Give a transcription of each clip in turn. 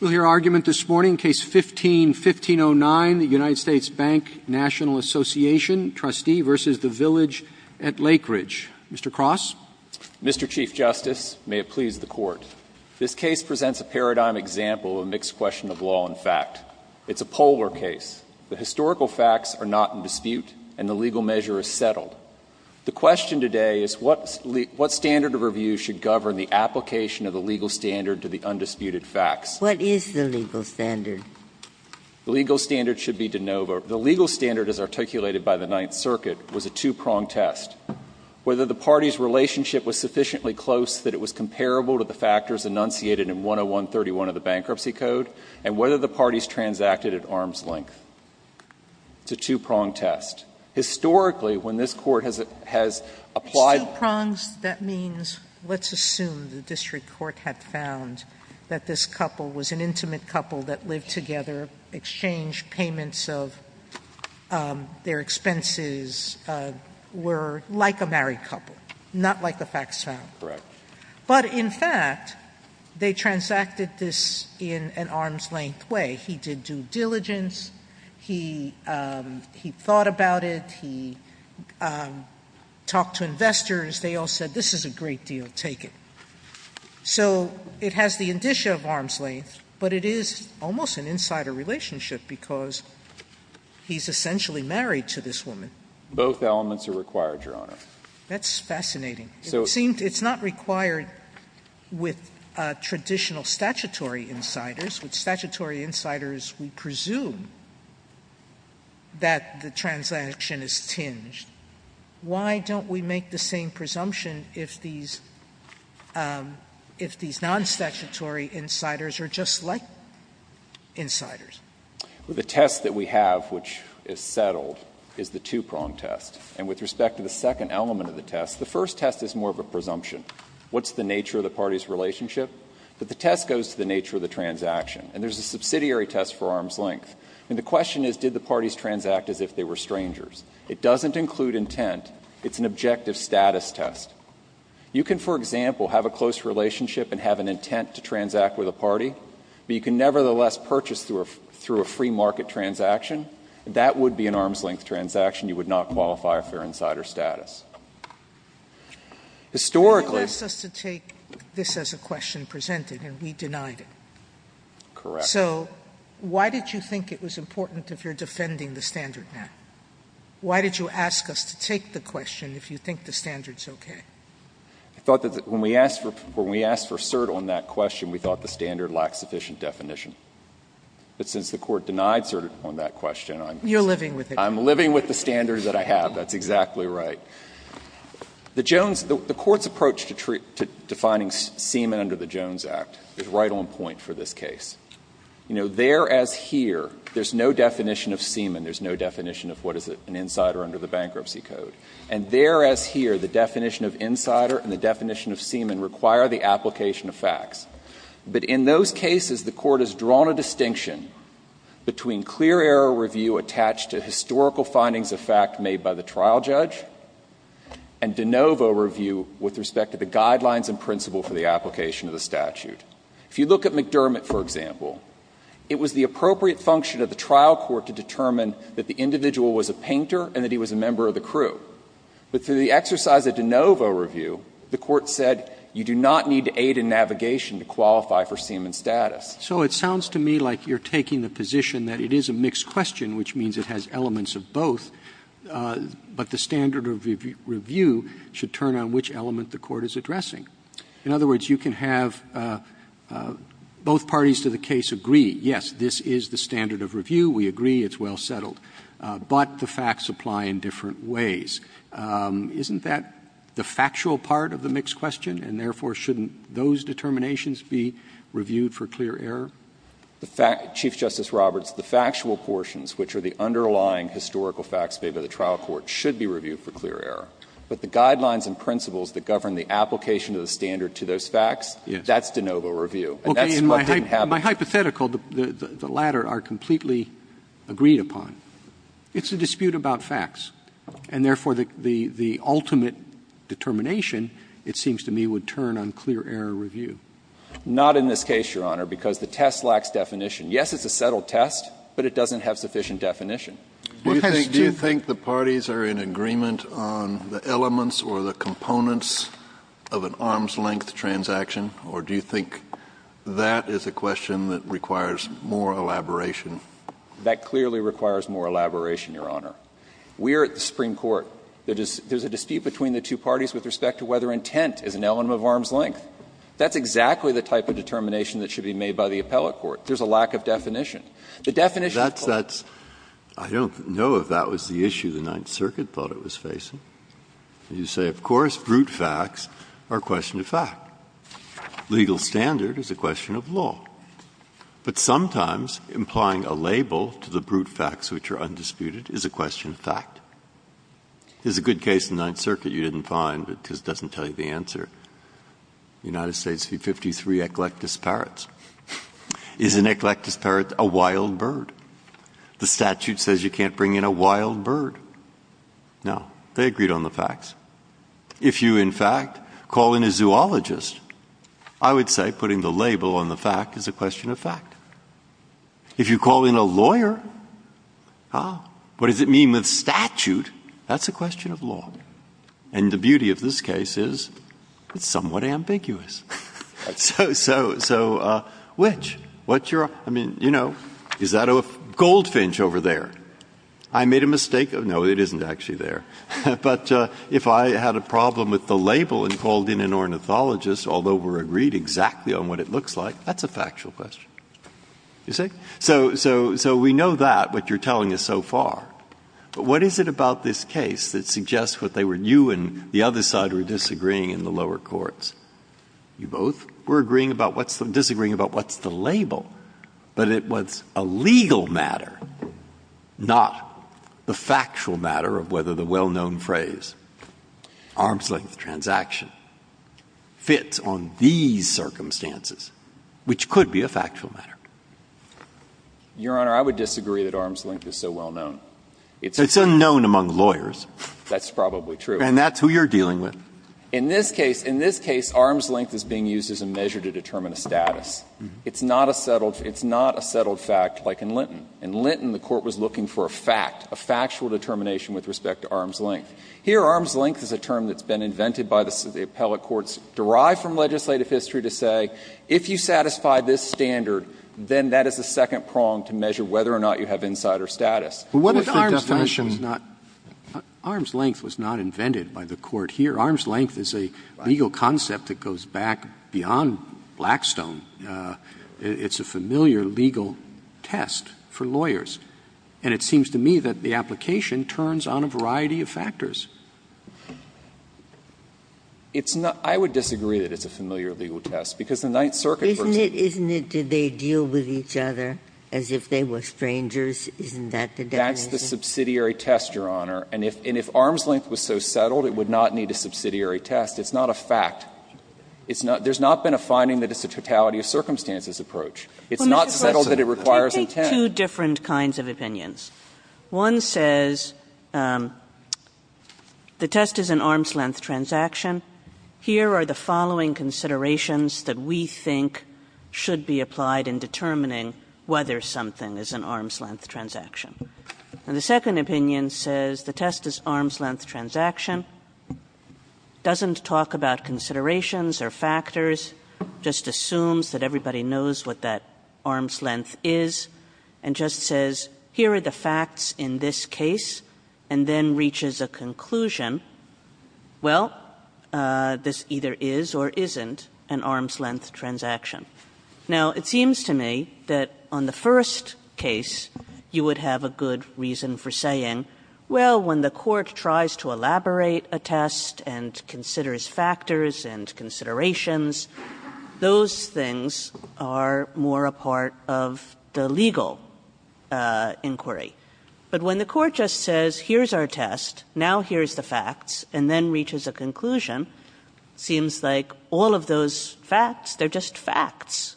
We'll hear argument this morning. Case 15-1509, the U.S. Bank Nat. Assn. v. Village at Lakeridge. Mr. Cross? Mr. Chief Justice, may it please the Court. This case presents a paradigm example of a mixed question of law and fact. It's a polar case. The historical facts are not in dispute, and the legal measure is settled. The question today is what standard of review should govern the application of the legal standard to the undisputed facts? What is the legal standard? The legal standard should be de novo. The legal standard, as articulated by the Ninth Circuit, was a two-pronged test. Whether the parties' relationship was sufficiently close that it was comparable to the factors enunciated in 10131 of the Bankruptcy Code, and whether the parties transacted at arm's length. It's a two-pronged test. Historically, when this Court has applied the two prongs, that means, let's assume the district court had found that this couple was an intimate couple that lived together, exchanged payments of their expenses, were like a married couple, not like the facts found. But, in fact, they transacted this in an arm's length way. He did due diligence. He thought about it. He talked to investors. They all said, this is a great deal, take it. So it has the indicia of arm's length, but it is almost an insider relationship because he's essentially married to this woman. Both elements are required, Your Honor. That's fascinating. It seemed it's not required with traditional statutory insiders. With statutory insiders, we presume that the transaction is tinged. Why don't we make the same presumption if these non-statutory insiders are just like insiders? The test that we have, which is settled, is the two-pronged test. And with respect to the second element of the test, the first test is more of a presumption. What's the nature of the party's relationship? But the test goes to the nature of the transaction. And there's a subsidiary test for arm's length. And the question is, did the parties transact as if they were strangers? It doesn't include intent. It's an objective status test. You can, for example, have a close relationship and have an intent to transact with a party, but you can nevertheless purchase through a free market transaction. That would be an arm's length transaction. Sotomayor, I'm sorry. I know the question was presented, and we denied it. Correct. So why did you think it was important if you're defending the standard now? Why did you ask us to take the question if you think the standard is okay? I thought that when we asked for cert on that question, we thought the standard lacked sufficient definition. But since the Court denied cert on that question, I'm just saying. You're living with it. I'm living with the standards that I have. That's exactly right. The Jones – the Court's approach to defining semen under the Jones Act is right on point for this case. You know, there as here, there's no definition of semen. There's no definition of what is an insider under the Bankruptcy Code. And there as here, the definition of insider and the definition of semen require the application of facts. But in those cases, the Court has drawn a distinction between clear error review attached to historical findings of fact made by the trial judge, and de novo review with respect to the guidelines and principle for the application of the statute. If you look at McDermott, for example, it was the appropriate function of the trial court to determine that the individual was a painter and that he was a member of the crew. But through the exercise of de novo review, the Court said you do not need to aid in navigation to qualify for semen status. So it sounds to me like you're taking the position that it is a mixed question, which means it has elements of both, but the standard of review should turn on which element the Court is addressing. In other words, you can have both parties to the case agree, yes, this is the standard of review, we agree, it's well settled, but the facts apply in different ways. Isn't that the factual part of the mixed question? And therefore, shouldn't those determinations be reviewed for clear error? Chief Justice Roberts, the factual portions, which are the underlying historical facts made by the trial court, should be reviewed for clear error. But the guidelines and principles that govern the application of the standard to those facts, that's de novo review. And that's what didn't happen. My hypothetical, the latter, are completely agreed upon. It's a dispute about facts. And therefore, the ultimate determination, it seems to me, would turn on clear error review. Not in this case, Your Honor, because the test lacks definition. Yes, it's a settled test, but it doesn't have sufficient definition. Do you think the parties are in agreement on the elements or the components of an arm's-length transaction, or do you think that is a question that requires more elaboration? That clearly requires more elaboration, Your Honor. We are at the Supreme Court. There's a dispute between the two parties with respect to whether intent is an element of arm's-length. That's exactly the type of determination that should be made by the appellate court. There's a lack of definition. The definition of court. Breyer. I don't know if that was the issue the Ninth Circuit thought it was facing. You say, of course, brute facts are a question of fact. Legal standard is a question of law. But sometimes implying a label to the brute facts which are undisputed is a question of fact. There's a good case in the Ninth Circuit you didn't find because it doesn't tell you the answer. United States v. 53, eclectus parrots. Is an eclectus parrot a wild bird? The statute says you can't bring in a wild bird. No. They agreed on the facts. If you, in fact, call in a zoologist, I would say putting the label on the fact is a question of fact. If you call in a lawyer, what does it mean with statute? That's a question of law. And the beauty of this case is it's somewhat ambiguous. So, so, so, which, what you're, I mean, you know, is that a goldfinch over there? I made a mistake. No, it isn't actually there. But if I had a problem with the label and called in an ornithologist, although we're agreed exactly on what it looks like, that's a factual question. You see? So, so, so we know that, what you're telling us so far. But what is it about this case that suggests what they were, you and the other side were disagreeing in the lower courts? You both were agreeing about what's the, disagreeing about what's the label. But it was a legal matter, not the factual matter of whether the well-known phrase, arm's-length transaction, fits on these circumstances, which could be a factual matter. Your Honor, I would disagree that arm's-length is so well-known. It's unknown among lawyers. That's probably true. And that's who you're dealing with. In this case, in this case, arm's-length is being used as a measure to determine a status. It's not a settled, it's not a settled fact like in Linton. In Linton, the Court was looking for a fact, a factual determination with respect to arm's-length. Here, arm's-length is a term that's been invented by the appellate courts, derived from legislative history to say, if you satisfy this standard, then that is the second prong to measure whether or not you have insider status. But what if the definition was not, arm's-length was not invented by the Court here. Arm's-length is a legal concept that goes back beyond Blackstone. It's a familiar legal test for lawyers. And it seems to me that the application turns on a variety of factors. It's not – I would disagree that it's a familiar legal test, because the Ninth Circuit version of it. Ginsburg. Isn't it that they deal with each other as if they were strangers? Isn't that the definition? That's the subsidiary test, Your Honor. And if arm's-length was so settled, it would not need a subsidiary test. It's not a fact. It's not – there's not been a finding that it's a totality-of-circumstances approach. It's not settled that it requires intent. There are two different kinds of opinions. One says the test is an arm's-length transaction. Here are the following considerations that we think should be applied in determining whether something is an arm's-length transaction. And the second opinion says the test is arm's-length transaction, doesn't talk about considerations or factors, just assumes that everybody knows what that arm's-length is, and just says, here are the facts in this case, and then reaches a conclusion, well, this either is or isn't an arm's-length transaction. Now, it seems to me that on the first case, you would have a good reason for saying, well, when the Court tries to elaborate a test and considers factors and considerations, it assumes those things are more a part of the legal inquiry. But when the Court just says, here's our test, now here's the facts, and then reaches a conclusion, it seems like all of those facts, they're just facts.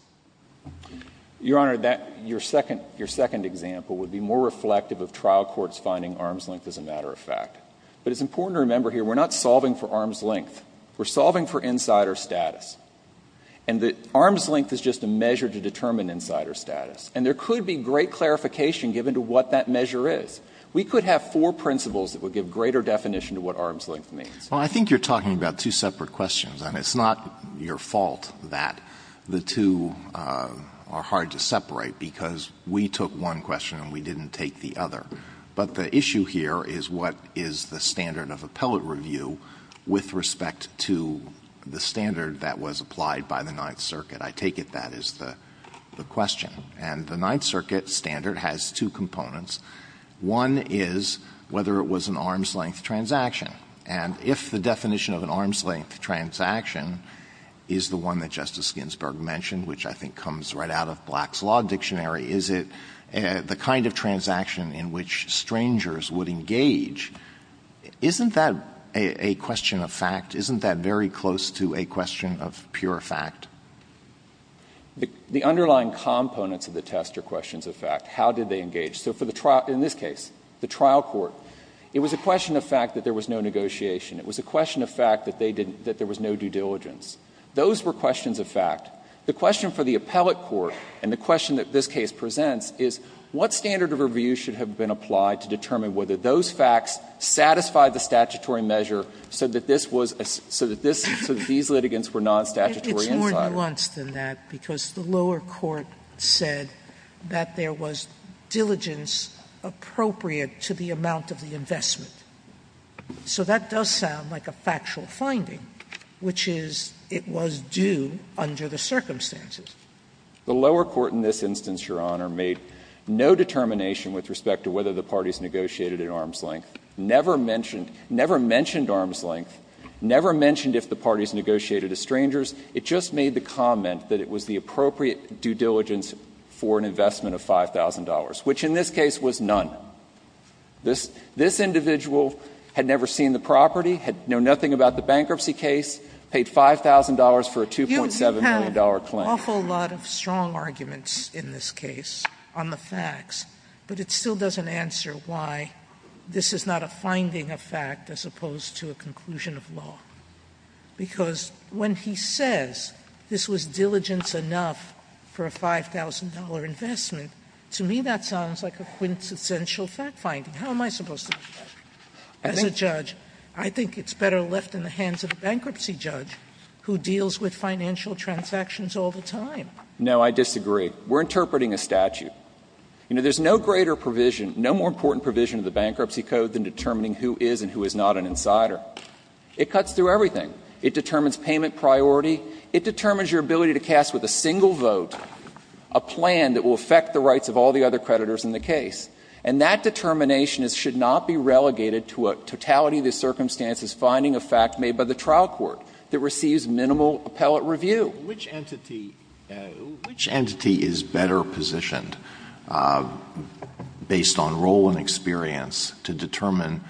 Your Honor, that – your second – your second example would be more reflective of trial courts finding arm's-length as a matter of fact. But it's important to remember here we're not solving for arm's-length. We're solving for insider status. And the arm's-length is just a measure to determine insider status. And there could be great clarification given to what that measure is. We could have four principles that would give greater definition to what arm's-length means. Alito, I think you're talking about two separate questions, and it's not your fault that the two are hard to separate, because we took one question and we didn't take the other. But the issue here is what is the standard of appellate review with respect to the standard that was applied by the Ninth Circuit? I take it that is the question. And the Ninth Circuit standard has two components. One is whether it was an arm's-length transaction. And if the definition of an arm's-length transaction is the one that Justice Ginsburg mentioned, which I think comes right out of Black's Law Dictionary, is it the kind of transaction in which strangers would engage? Isn't that a question of fact? Isn't that very close to a question of pure fact? The underlying components of the test are questions of fact. How did they engage? So for the trial – in this case, the trial court, it was a question of fact that there was no negotiation. It was a question of fact that they didn't – that there was no due diligence. Those were questions of fact. The question for the appellate court and the question that this case presents is what standard of review should have been applied to determine whether those facts satisfied the statutory measure so that this was – so that this – so that these litigants were non-statutory insiders. Sotomayor, it's more nuanced than that, because the lower court said that there was diligence appropriate to the amount of the investment. So that does sound like a factual finding, which is it was due under the circumstances. The lower court in this instance, Your Honor, made no determination with respect to whether the parties negotiated at arm's length. Never mentioned – never mentioned arm's length. Never mentioned if the parties negotiated as strangers. It just made the comment that it was the appropriate due diligence for an investment of $5,000, which in this case was none. This – this individual had never seen the property, had known nothing about the bankruptcy case, paid $5,000 for a $2.7 million claim. Sotomayor, you have an awful lot of strong arguments in this case on the facts, but it still doesn't answer why this is not a finding of fact as opposed to a conclusion of law. Because when he says this was diligence enough for a $5,000 investment, to me that sounds like a quintessential fact finding. How am I supposed to do that? As a judge, I think it's better left in the hands of a bankruptcy judge who deals with financial transactions all the time. No, I disagree. We're interpreting a statute. You know, there's no greater provision, no more important provision of the Bankruptcy Code than determining who is and who is not an insider. It cuts through everything. It determines payment priority. It determines your ability to cast with a single vote a plan that will affect the rights of all the other creditors in the case. And that determination should not be relegated to a totality of the circumstances finding of fact made by the trial court that receives minimal appellate review. Alito, which entity is better positioned, based on role and experience, to determine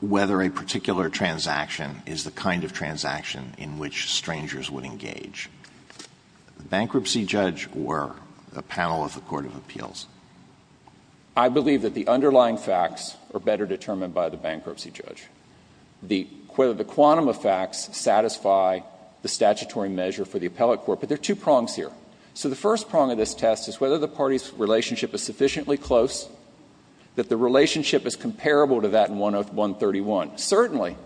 whether a particular transaction is the kind of transaction in which strangers would engage? The bankruptcy judge or the panel of the court of appeals? I believe that the underlying facts are better determined by the bankruptcy judge. The quantum of facts satisfy the statutory measure for the appellate court. But there are two prongs here. So the first prong of this test is whether the party's relationship is sufficiently close, that the relationship is comparable to that in 10131. Certainly,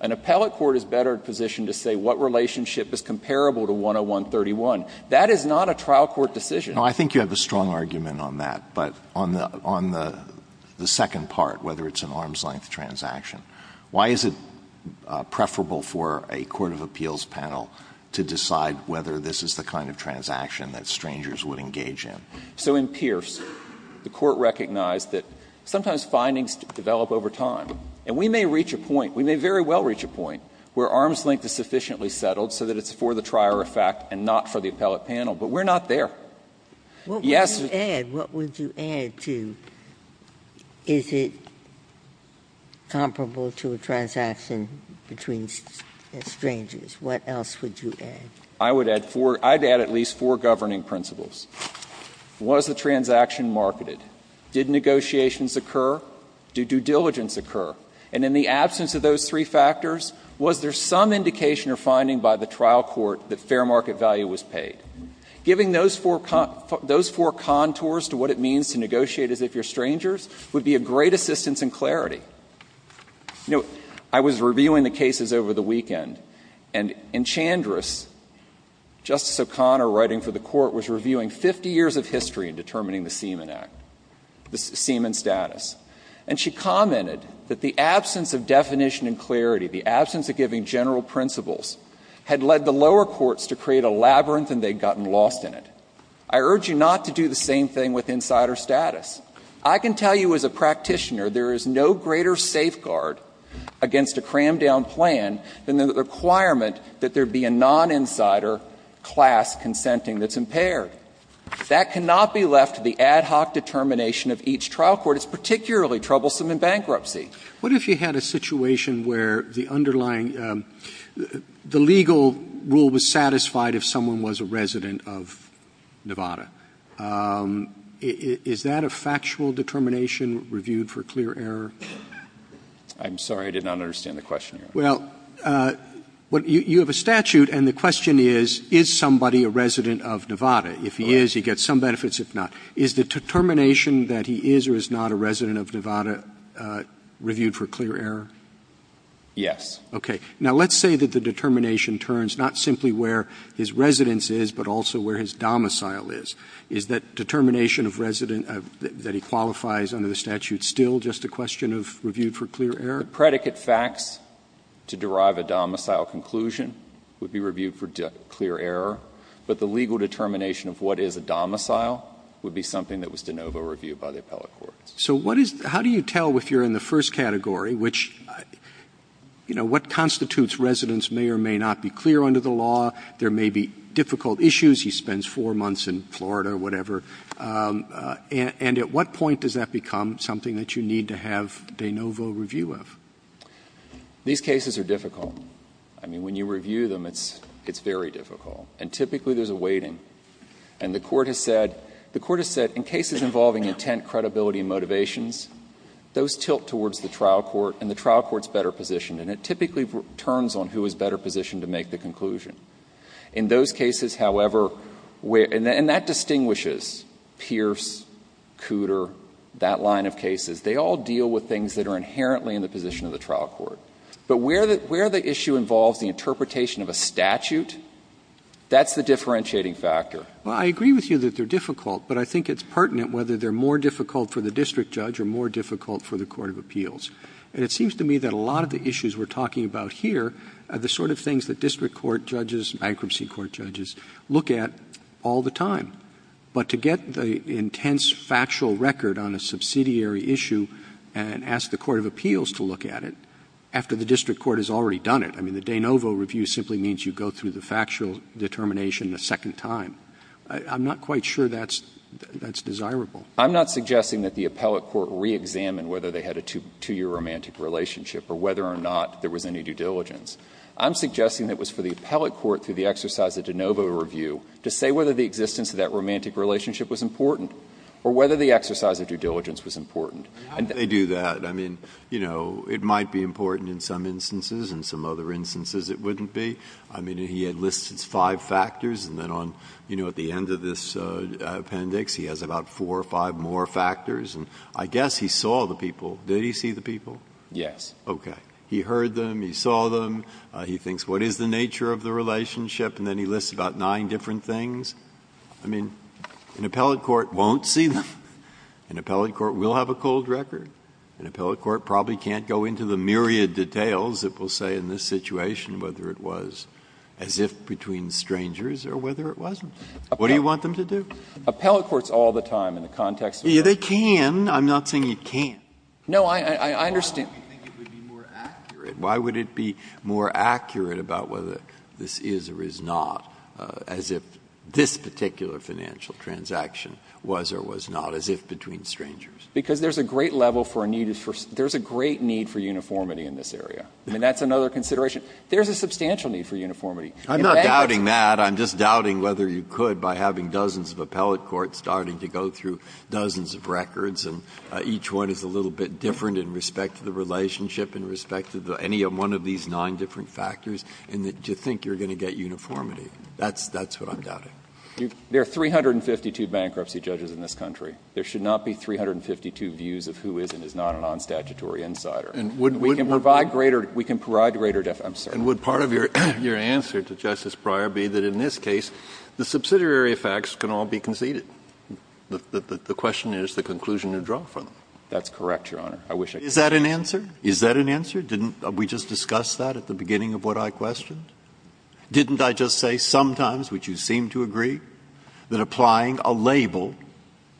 an appellate court is better positioned to say what relationship is comparable to 10131. That is not a trial court decision. No, I think you have a strong argument on that. But on the second part, whether it's an arm's-length transaction, why is it preferable for a court of appeals panel to decide whether this is the kind of transaction that strangers would engage in? So in Pierce, the Court recognized that sometimes findings develop over time. And we may reach a point, we may very well reach a point, where arm's-length is sufficiently settled so that it's for the trier of fact and not for the appellate panel, but we're not there. Yes. Ginsburg. What would you add? What would you add to, is it comparable to a transaction between strangers? What else would you add? I would add four. I'd add at least four governing principles. Was the transaction marketed? Did negotiations occur? Did due diligence occur? And in the absence of those three factors, was there some indication or finding by the trial court that fair market value was paid? Giving those four contours to what it means to negotiate as if you're strangers would be a great assistance in clarity. You know, I was reviewing the cases over the weekend, and in Chandris, Justice O'Connor writing for the Court was reviewing 50 years of history in determining the Seaman Act, the Seaman status. And she commented that the absence of definition and clarity, the absence of giving general principles, had led the lower courts to create a labyrinth and they'd gotten lost in it. I urge you not to do the same thing with insider status. I can tell you as a practitioner there is no greater safeguard against a crammed down plan than the requirement that there be a non-insider class consenting that's impaired. That cannot be left to the ad hoc determination of each trial court. It's particularly troublesome in bankruptcy. What if you had a situation where the underlying, the legal rule was satisfied if someone was a resident of Nevada? Is that a factual determination reviewed for clear error? I'm sorry. I did not understand the question. Well, you have a statute, and the question is, is somebody a resident of Nevada? If he is, he gets some benefits. If not, is the determination that he is or is not a resident of Nevada? Reviewed for clear error? Yes. Okay. Now, let's say that the determination turns not simply where his residence is, but also where his domicile is. Is that determination of resident that he qualifies under the statute still just a question of reviewed for clear error? The predicate facts to derive a domicile conclusion would be reviewed for clear error, but the legal determination of what is a domicile would be something that was de novo reviewed by the appellate court. So what is, how do you tell if you're in the first category, which, you know, what constitutes residence may or may not be clear under the law, there may be difficult issues, he spends 4 months in Florida or whatever, and at what point does that become something that you need to have de novo review of? These cases are difficult. I mean, when you review them, it's very difficult. And typically there's a weighting. And the Court has said, the Court has said in cases involving intent, credibility and motivations, those tilt towards the trial court, and the trial court's better positioned, and it typically turns on who is better positioned to make the conclusion. In those cases, however, and that distinguishes Pierce, Cooter, that line of cases, they all deal with things that are inherently in the position of the trial court. But where the issue involves the interpretation of a statute, that's the differentiating factor. Well, I agree with you that they're difficult, but I think it's pertinent whether they're more difficult for the district judge or more difficult for the court of appeals. And it seems to me that a lot of the issues we're talking about here are the sort of things that district court judges, bankruptcy court judges, look at all the time. But to get the intense factual record on a subsidiary issue and ask the court of appeals to look at it after the district court has already done it, I mean, the de novo review simply means you go through the factual determination a second time. I'm not quite sure that's desirable. I'm not suggesting that the appellate court reexamine whether they had a two-year romantic relationship or whether or not there was any due diligence. I'm suggesting that it was for the appellate court, through the exercise of de novo review, to say whether the existence of that romantic relationship was important or whether the exercise of due diligence was important. How would they do that? I mean, you know, it might be important in some instances. In some other instances, it wouldn't be. I mean, he had listed five factors, and then on, you know, at the end of this appendix, he has about four or five more factors. And I guess he saw the people. Did he see the people? Verrilli, Jr.: Yes. Breyer. Okay. He heard them. He saw them. He thinks, what is the nature of the relationship? And then he lists about nine different things. I mean, an appellate court won't see them. An appellate court will have a cold record. An appellate court probably can't go into the myriad details that will say in this situation whether it was as if between strangers or whether it wasn't. What do you want them to do? Verrilli, Jr.: Appellate courts all the time in the context of that. Breyer. I'm not saying you can't. Verrilli, Jr.: No, I understand. Breyer. Why would you think it would be more accurate? Why would it be more accurate about whether this is or is not, as if this particular financial transaction was or was not as if between strangers? Verrilli, Jr.: Because there's a great level for a need for – there's a great need for uniformity in this area. I mean, that's another consideration. There's a substantial need for uniformity. Breyer. I'm not doubting that. I'm just doubting whether you could by having dozens of appellate courts starting to go through dozens of records, and each one is a little bit different in respect to the relationship, in respect to any one of these nine different factors, and that you think you're going to get uniformity. That's what I'm doubting. Verrilli, Jr.: There are 352 bankruptcy judges in this country. There should not be 352 views of who is and is not a non-statutory insider. We can provide greater – we can provide greater – I'm sorry. Kennedy, Jr.: And would part of your answer to Justice Breyer be that in this case, the subsidiary effects can all be conceded? The question is the conclusion you draw from them. Verrilli, Jr.: That's correct, Your Honor. I wish I could. Breyer. Is that an answer? Is that an answer? Didn't we just discuss that at the beginning of what I questioned? Didn't I just say sometimes, which you seem to agree, that applying a label,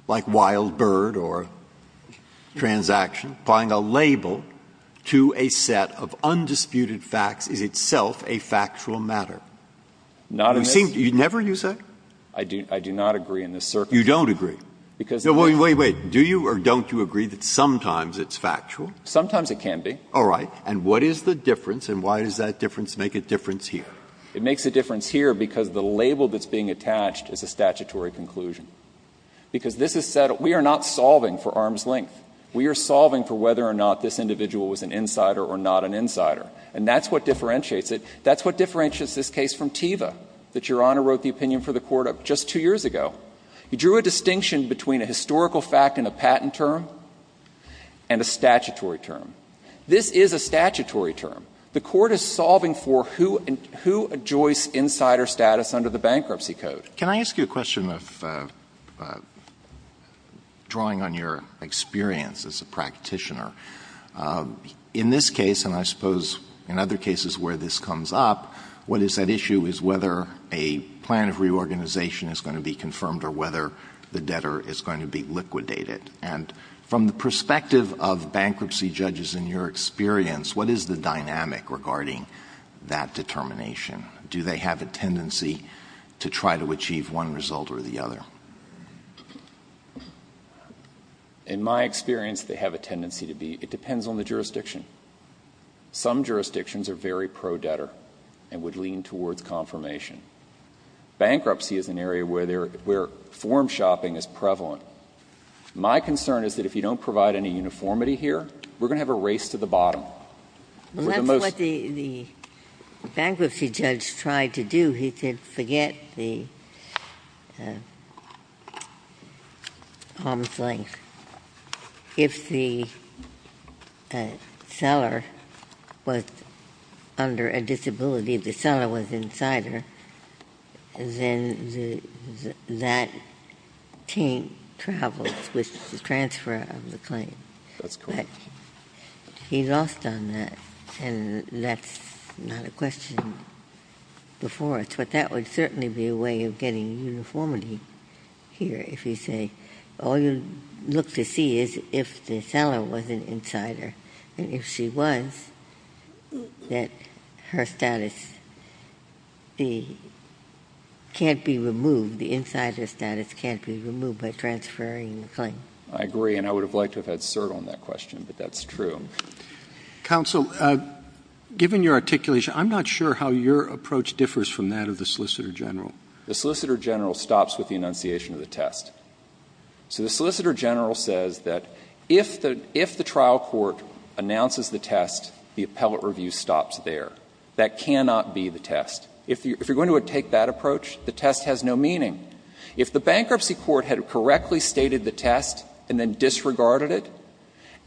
like Wild Bird or transaction, applying a label to a set of undisputed facts is itself Verrilli, Jr.: Not in this circumstance. Never, you say? Verrilli, Jr.: I do not agree in this circumstance. You don't agree? Verrilli, Jr.: Because the fact is that sometimes it can be. Wait, wait. Do you or don't you agree that sometimes it's factual? Verrilli, Jr.: Sometimes it can be. All right. And what is the difference and why does that difference make a difference here? Verrilli, Jr.: It makes a difference here because the label that's being attached is a statutory conclusion. Because this is said, we are not solving for arm's length. We are solving for whether or not this individual was an insider or not an insider. And that's what differentiates it. That's what differentiates this case from Teva, that Your Honor wrote the opinion for the Court of just two years ago. You drew a distinction between a historical fact and a patent term and a statutory term. This is a statutory term. The Court is solving for who adjoins insider status under the Bankruptcy Code. Alito, Jr.: Can I ask you a question of drawing on your experience as a practitioner? In this case, and I suppose in other cases where this comes up, what is at issue is whether a plan of reorganization is going to be confirmed or whether the debtor is going to be liquidated. And from the perspective of bankruptcy judges in your experience, what is the dynamic regarding that determination? Do they have a tendency to try to achieve one result or the other? Verrilli, Jr.: In my experience, they have a tendency to be. It depends on the jurisdiction. Some jurisdictions are very pro-debtor and would lean towards confirmation. Bankruptcy is an area where form shopping is prevalent. My concern is that if you don't provide any uniformity here, we're going to have a race to the bottom. Ginsburg. Well, that's what the bankruptcy judge tried to do. He said forget the arm's length. If the seller was under a disability, if the seller was insider, then that team travels with the transfer of the claim. But he lost on that, and that's not a question before us. But that would certainly be a way of getting uniformity here. If you say all you look to see is if the seller was an insider and if she was, that her status can't be removed. The insider status can't be removed by transferring the claim. I agree, and I would have liked to have had cert on that question, but that's true. Counsel, given your articulation, I'm not sure how your approach differs from that of the Solicitor General. The Solicitor General stops with the enunciation of the test. So the Solicitor General says that if the trial court announces the test, the appellate review stops there. That cannot be the test. If you're going to take that approach, the test has no meaning. If the bankruptcy court had correctly stated the test and then disregarded it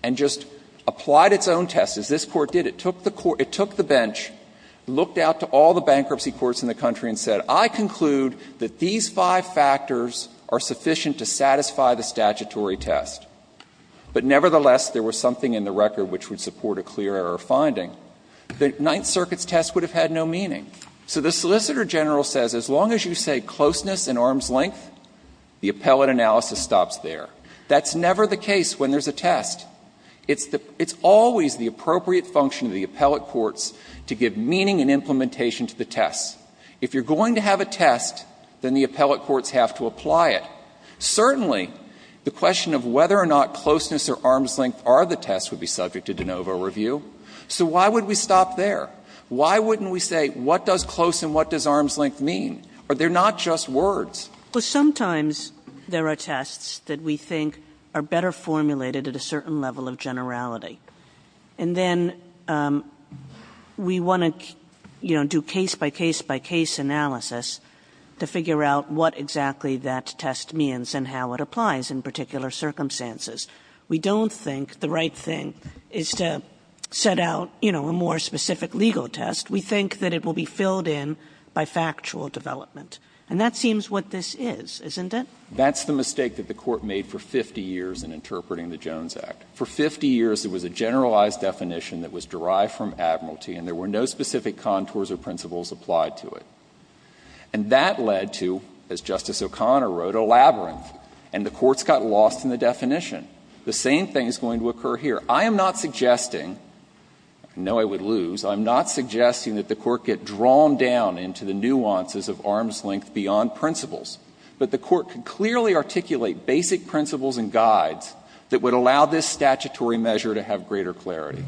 and just applied its own test, as this Court did, it took the bench, looked out to all the bankruptcy courts in the country and said, I conclude that these five factors are sufficient to satisfy the statutory test. But nevertheless, there was something in the record which would support a clear error finding. The Ninth Circuit's test would have had no meaning. So the Solicitor General says as long as you say closeness and arm's length, the appellate analysis stops there. That's never the case when there's a test. It's always the appropriate function of the appellate courts to give meaning and implementation to the test. If you're going to have a test, then the appellate courts have to apply it. Certainly, the question of whether or not closeness or arm's length are the test would be subject to de novo review. So why would we stop there? Why wouldn't we say what does close and what does arm's length mean? They're not just words. Kagan. Kagan. Sometimes there are tests that we think are better formulated at a certain level of generality. And then we want to, you know, do case by case by case analysis to figure out what exactly that test means and how it applies in particular circumstances. We don't think the right thing is to set out, you know, a more specific legal test. We think that it will be filled in by factual development. And that seems what this is, isn't it? That's the mistake that the Court made for 50 years in interpreting the Jones Act. For 50 years, it was a generalized definition that was derived from admiralty and there were no specific contours or principles applied to it. And that led to, as Justice O'Connor wrote, a labyrinth. And the courts got lost in the definition. The same thing is going to occur here. I am not suggesting, I know I would lose, I'm not suggesting that the Court get drawn down into the nuances of arm's length beyond principles. But the Court could clearly articulate basic principles and guides that would allow this statutory measure to have greater clarity.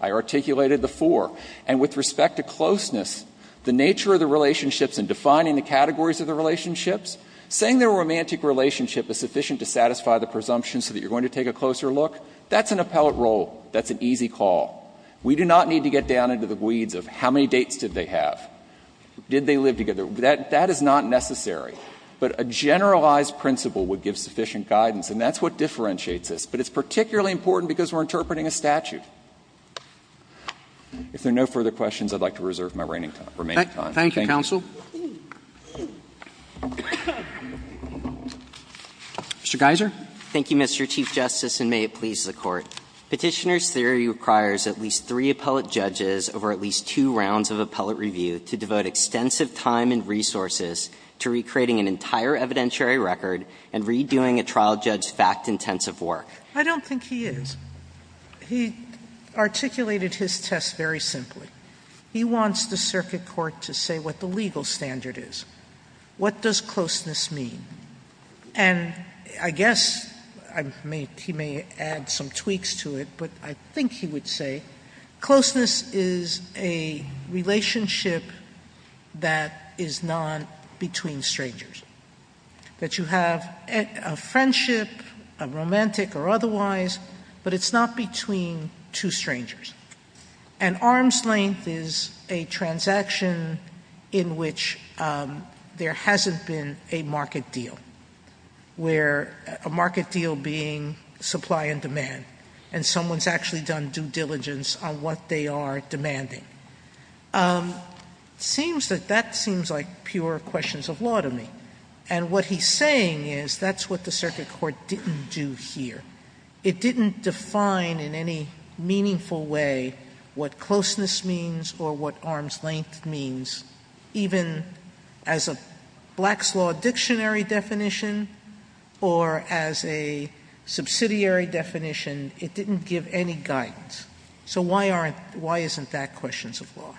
I articulated the four. And with respect to closeness, the nature of the relationships and defining the categories of the relationships, saying that a romantic relationship is sufficient to satisfy the presumption so that you're going to take a closer look, that's an appellate role, that's an easy call. We do not need to get down into the weeds of how many dates did they have, did they live together. That is not necessary. But a generalized principle would give sufficient guidance and that's what differentiates this. But it's particularly important because we're interpreting a statute. If there are no further questions, I would like to reserve my remaining time. Thank you. Thank you. Roberts. Thank you, counsel. Mr. Geiser. Geiser. Thank you, Mr. Chief Justice, and may it please the Court. Petitioner's theory requires at least three appellate judges over at least two rounds of appellate review to devote extensive time and resources to recreating an entire evidentiary record and redoing a trial judge's fact-intensive work. I don't think he is. He articulated his test very simply. He wants the circuit court to say what the legal standard is. What does closeness mean? And I guess he may add some tweaks to it, but I think he would say closeness is a relationship that is not between strangers, that you have a friendship, a romantic or otherwise, but it's not between two strangers. And arm's length is a transaction in which there hasn't been a market deal, where a market deal being supply and demand, and someone's actually done due diligence on what they are demanding. It seems that that seems like pure questions of law to me. And what he's saying is that's what the circuit court didn't do here. It didn't define in any meaningful way what closeness means or what arm's length means, even as a Black's Law dictionary definition or as a subsidiary definition. It didn't give any guidance. So why aren't why isn't that questions of law?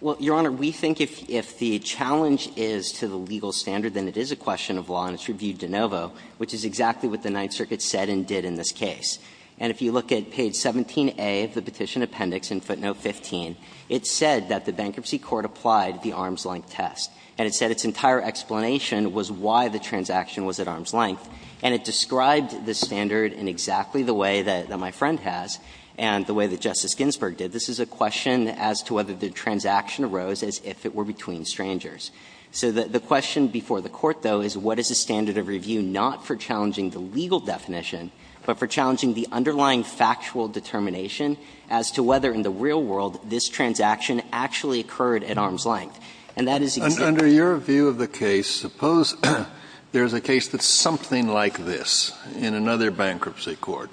Well, Your Honor, we think if the challenge is to the legal standard, then it is a question of law and it's reviewed de novo, which is exactly what the Ninth Circuit said and did in this case. And if you look at page 17A of the petition appendix in footnote 15, it said that the bankruptcy court applied the arm's length test. And it said its entire explanation was why the transaction was at arm's length. And it described the standard in exactly the way that my friend has and the way that Justice Ginsburg did. This is a question as to whether the transaction arose as if it were between strangers. So the question before the court, though, is what is the standard of review not for challenging the legal definition, but for challenging the underlying factual determination as to whether in the real world this transaction actually occurred at arm's length. And that is exactly what the court said. Kennedy, under your view of the case, suppose there is a case that's something like this in another bankruptcy court.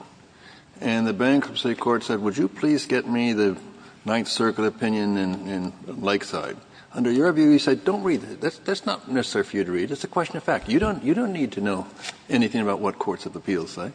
And the bankruptcy court said, would you please get me the Ninth Circuit opinion in Lakeside. Under your view, you said, don't read it. That's not necessarily for you to read. It's a question of fact. You don't need to know anything about what courts of appeals say.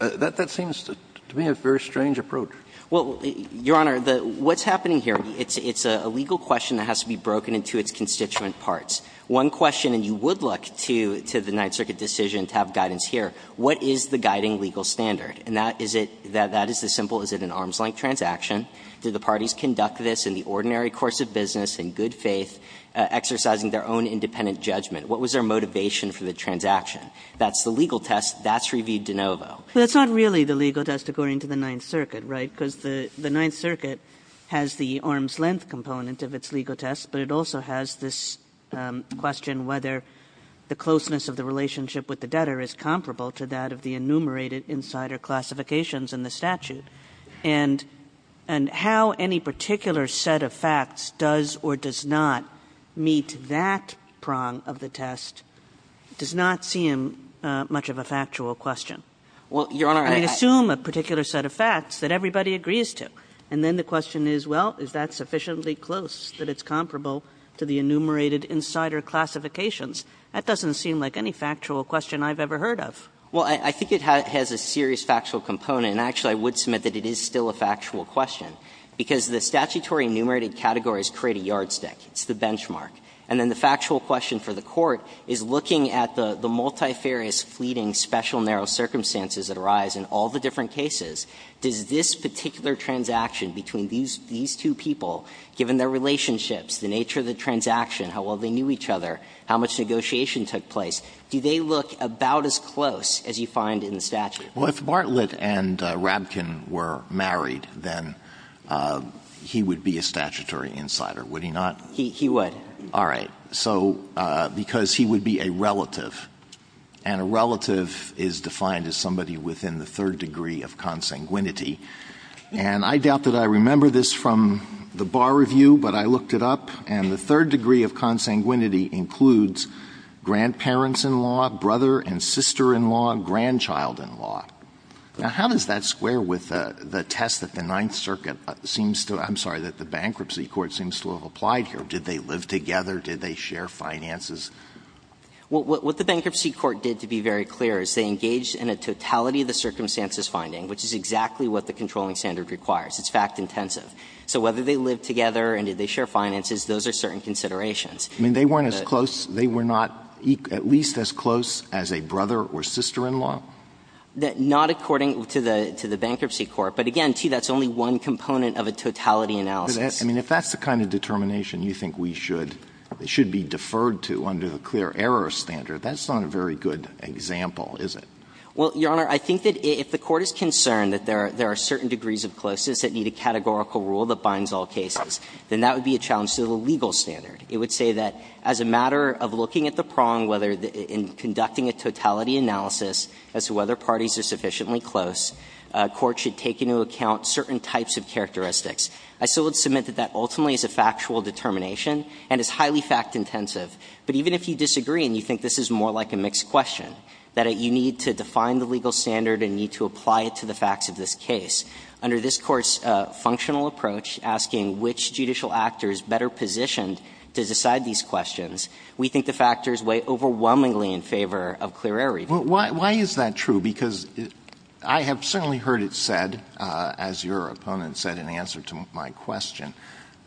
That seems to me a very strange approach. Well, Your Honor, what's happening here, it's a legal question that has to be broken into its constituent parts. One question, and you would look to the Ninth Circuit decision to have guidance here, what is the guiding legal standard? And that is it, that is the simple, is it an arm's length transaction? Do the parties conduct this in the ordinary course of business, in good faith, exercising their own independent judgment? What was their motivation for the transaction? That's the legal test. That's reviewed de novo. But it's not really the legal test according to the Ninth Circuit, right? Because the Ninth Circuit has the arm's length component of its legal test, but it also has this question whether the closeness of the relationship with the debtor is comparable to that of the enumerated insider classifications in the statute. And how any particular set of facts does or does not meet that prong of the test does not seem much of a factual question. Well, Your Honor, I assume a particular set of facts that everybody agrees to. And then the question is, well, is that sufficiently close that it's comparable to the enumerated insider classifications? That doesn't seem like any factual question I've ever heard of. Well, I think it has a serious factual component. And actually, I would submit that it is still a factual question, because the statutory enumerated categories create a yardstick. It's the benchmark. And then the factual question for the Court is, looking at the multifarious, fleeting, special, narrow circumstances that arise in all the different cases, does this particular transaction between these two people, given their relationships, the nature of the transaction, how well they knew each other, how much negotiation took place, do they look about as close as you find in the statute? Well, if Bartlett and Rabkin were married, then he would be a statutory insider, would he not? He would. All right. So because he would be a relative, and a relative is defined as somebody within the third degree of consanguinity. And I doubt that I remember this from the bar review, but I looked it up. And the third degree of consanguinity includes grandparents-in-law, brother-and-sister-in-law, grandchild-in-law. Now, how does that square with the test that the Ninth Circuit seems to be, I'm sorry, that the Bankruptcy Court seems to have applied here? Did they live together? Did they share finances? Well, what the Bankruptcy Court did, to be very clear, is they engaged in a totality of the circumstances finding, which is exactly what the controlling standard requires. It's fact-intensive. So whether they lived together and did they share finances, those are certain considerations. I mean, they weren't as close, they were not at least as close as a brother or sister-in-law? Not according to the Bankruptcy Court. But again, too, that's only one component of a totality analysis. I mean, if that's the kind of determination you think we should be deferred to under the clear error standard, that's not a very good example, is it? Well, Your Honor, I think that if the Court is concerned that there are certain degrees of closeness that need a categorical rule that binds all cases, then that would be a challenge to the legal standard. It would say that as a matter of looking at the prong, whether in conducting a totality analysis as to whether parties are sufficiently close, a court should take into account certain types of characteristics. I still would submit that that ultimately is a factual determination and is highly fact-intensive. But even if you disagree and you think this is more like a mixed question, that you need to define the legal standard and need to apply it to the facts of this case, under this Court's functional approach, asking which judicial actor is better positioned to decide these questions, we think the factors weigh overwhelmingly in favor of clear error reasoning. Why is that true? Because I have certainly heard it said, as your opponent said in answer to my question,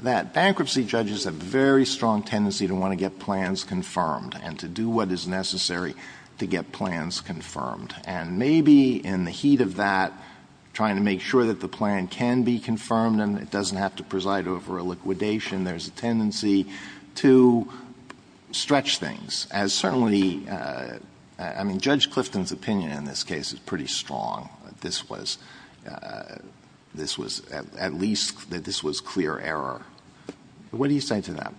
that bankruptcy judges have a very strong tendency to want to get plans confirmed and to do what is necessary to get plans confirmed. And maybe in the heat of that, trying to make sure that the plan can be confirmed and it doesn't have to preside over a liquidation, there's a tendency to stretch things, as certainly, I mean, Judge Clifton's opinion in this case is pretty strong, that this was, this was at least, that this was clear error. What do you say to that?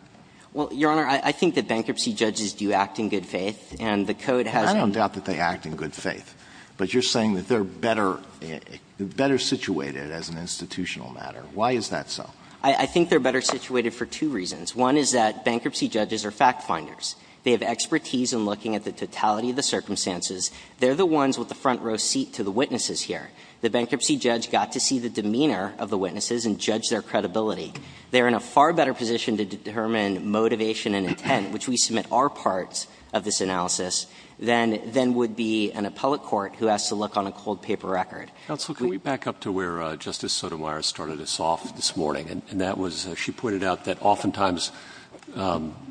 Well, Your Honor, I think that bankruptcy judges do act in good faith, and the Code has a need to be clear. I don't doubt that they act in good faith, but you're saying that they're better situated as an institutional matter. Why is that so? I think they're better situated for two reasons. One is that bankruptcy judges are fact-finders. They have expertise in looking at the totality of the circumstances. They're the ones with the front row seat to the witnesses here. The bankruptcy judge got to see the demeanor of the witnesses and judge their credibility. They're in a far better position to determine motivation and intent, which we submit our parts of this analysis, than would be an appellate court who has to look on a cold paper record. Roberts. Counsel, can we back up to where Justice Sotomayor started us off this morning? And that was, she pointed out that oftentimes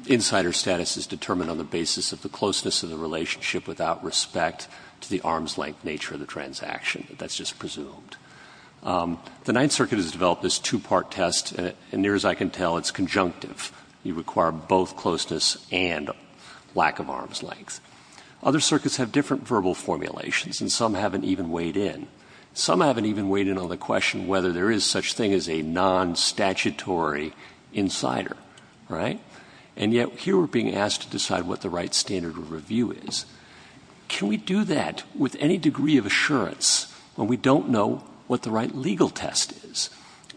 insider status is determined on the basis of the closeness of the relationship without respect to the arm's-length nature of the transaction. That's just presumed. The Ninth Circuit has developed this two-part test, and near as I can tell, it's conjunctive. You require both closeness and lack of arm's length. Other circuits have different verbal formulations, and some haven't even weighed in. Some haven't even weighed in on the question whether there is such thing as a non-statutory insider, right? And yet, here we're being asked to decide what the right standard of review is. Can we do that with any degree of assurance when we don't know what the right legal test is?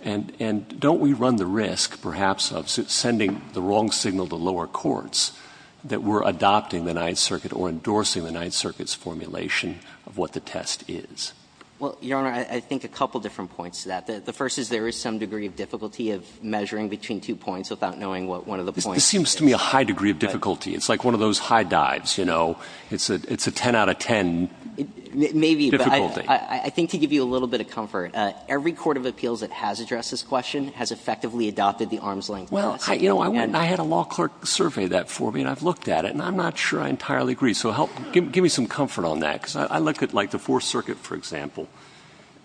And don't we run the risk, perhaps, of sending the wrong signal to lower courts that we're adopting the Ninth Circuit or endorsing the Ninth Circuit's formulation of what the test is? Well, Your Honor, I think a couple different points to that. The first is there is some degree of difficulty of measuring between two points without knowing what one of the points is. This seems to me a high degree of difficulty. It's like one of those high dives, you know. It's a 10 out of 10 difficulty. Maybe. But I think to give you a little bit of comfort, every court of appeals that has addressed this question has effectively adopted the arm's length policy. Well, you know, I had a law clerk survey that for me, and I've looked at it, and I'm not sure I entirely agree. So help, give me some comfort on that, because I look at, like, the Fourth Circuit, for example,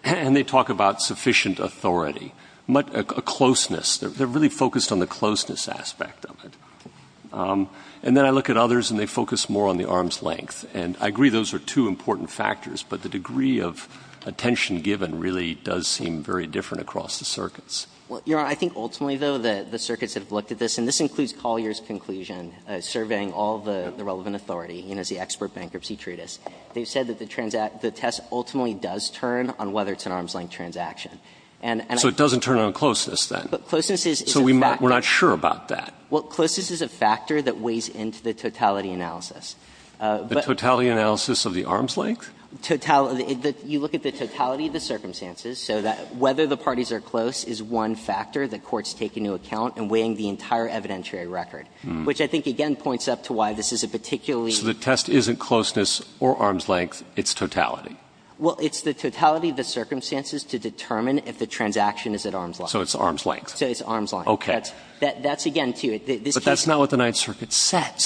and they talk about sufficient authority, a closeness. They're really focused on the closeness aspect of it. And then I look at others, and they focus more on the arm's length. And I agree those are two important factors, but the degree of attention given really does seem very different across the circuits. Well, Your Honor, I think ultimately, though, the circuits have looked at this, and this includes Collier's conclusion, surveying all the relevant authority, you know, as the expert bankruptcy treatise. They've said that the test ultimately does turn on whether it's an arm's length transaction. And I think that's true. So it doesn't turn on closeness, then? But closeness is a factor. So we're not sure about that. Well, closeness is a factor that weighs into the totality analysis. But the totality analysis of the arm's length? Totality. You look at the totality of the circumstances, so that whether the parties are close is one factor that courts take into account in weighing the entire evidentiary record, which I think, again, points up to why this is a particularly So the test isn't closeness or arm's length. It's totality. Well, it's the totality of the circumstances to determine if the transaction is at arm's length. So it's arm's length. So it's arm's length. Okay. But that's, again, to this case. But that's not what the Ninth Circuit said.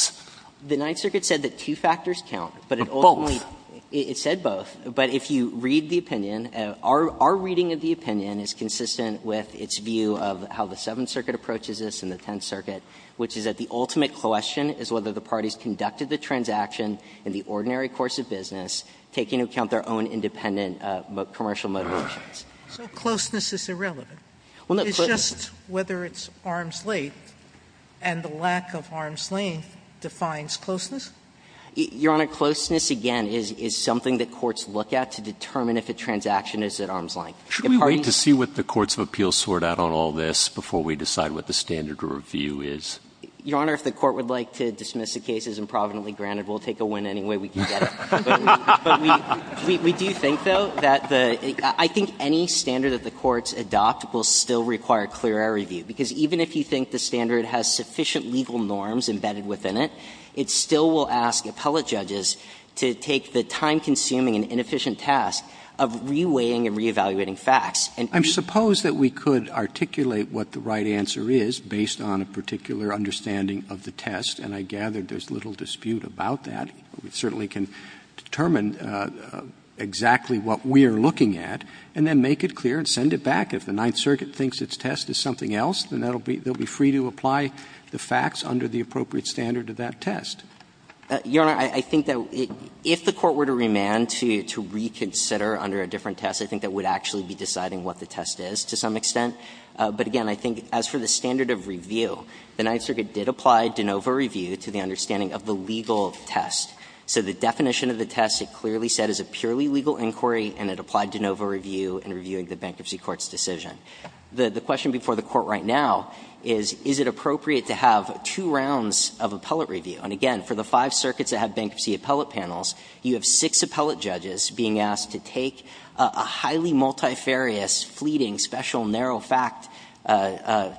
The Ninth Circuit said that two factors count. But ultimately, it said both. But if you read the opinion, our reading of the opinion is consistent with its view of how the Seventh Circuit approaches this and the Tenth Circuit, which is that the ultimate question is whether the parties conducted the transaction in the ordinary course of business, taking into account their own independent commercial motivations. So closeness is irrelevant. It's just whether it's arm's length, and the lack of arm's length defines closeness? Your Honor, closeness, again, is something that courts look at to determine if a transaction is at arm's length. If parties Should we wait to see what the courts of appeals sort out on all this before we decide what the standard of review is? Your Honor, if the Court would like to dismiss the case as improvidently granted, we'll take a win anyway. We can get it. But we do think, though, that the – I think any standard that the courts adopt will still require clear error review, because even if you think the standard has sufficient legal norms embedded within it, it still will ask appellate judges to take the time-consuming and inefficient task of re-weighing and re-evaluating facts. And I'm supposed that we could articulate what the right answer is based on a particular understanding of the test, and I gather there's little dispute about that. We certainly can determine exactly what we are looking at, and then make it clear and send it back. If the Ninth Circuit thinks its test is something else, then that'll be – they'll be free to apply the facts under the appropriate standard of that test. Your Honor, I think that if the Court were to remand to reconsider under a different test, I think that would actually be deciding what the test is to some extent. But again, I think as for the standard of review, the Ninth Circuit did apply de nova review to the understanding of the legal test. So the definition of the test, it clearly said, is a purely legal inquiry, and it applied de nova review in reviewing the Bankruptcy Court's decision. The question before the Court right now is, is it appropriate to have two rounds of appellate review? And again, for the five circuits that have bankruptcy appellate panels, you have six appellate judges being asked to take a highly multifarious, fleeting, special narrow fact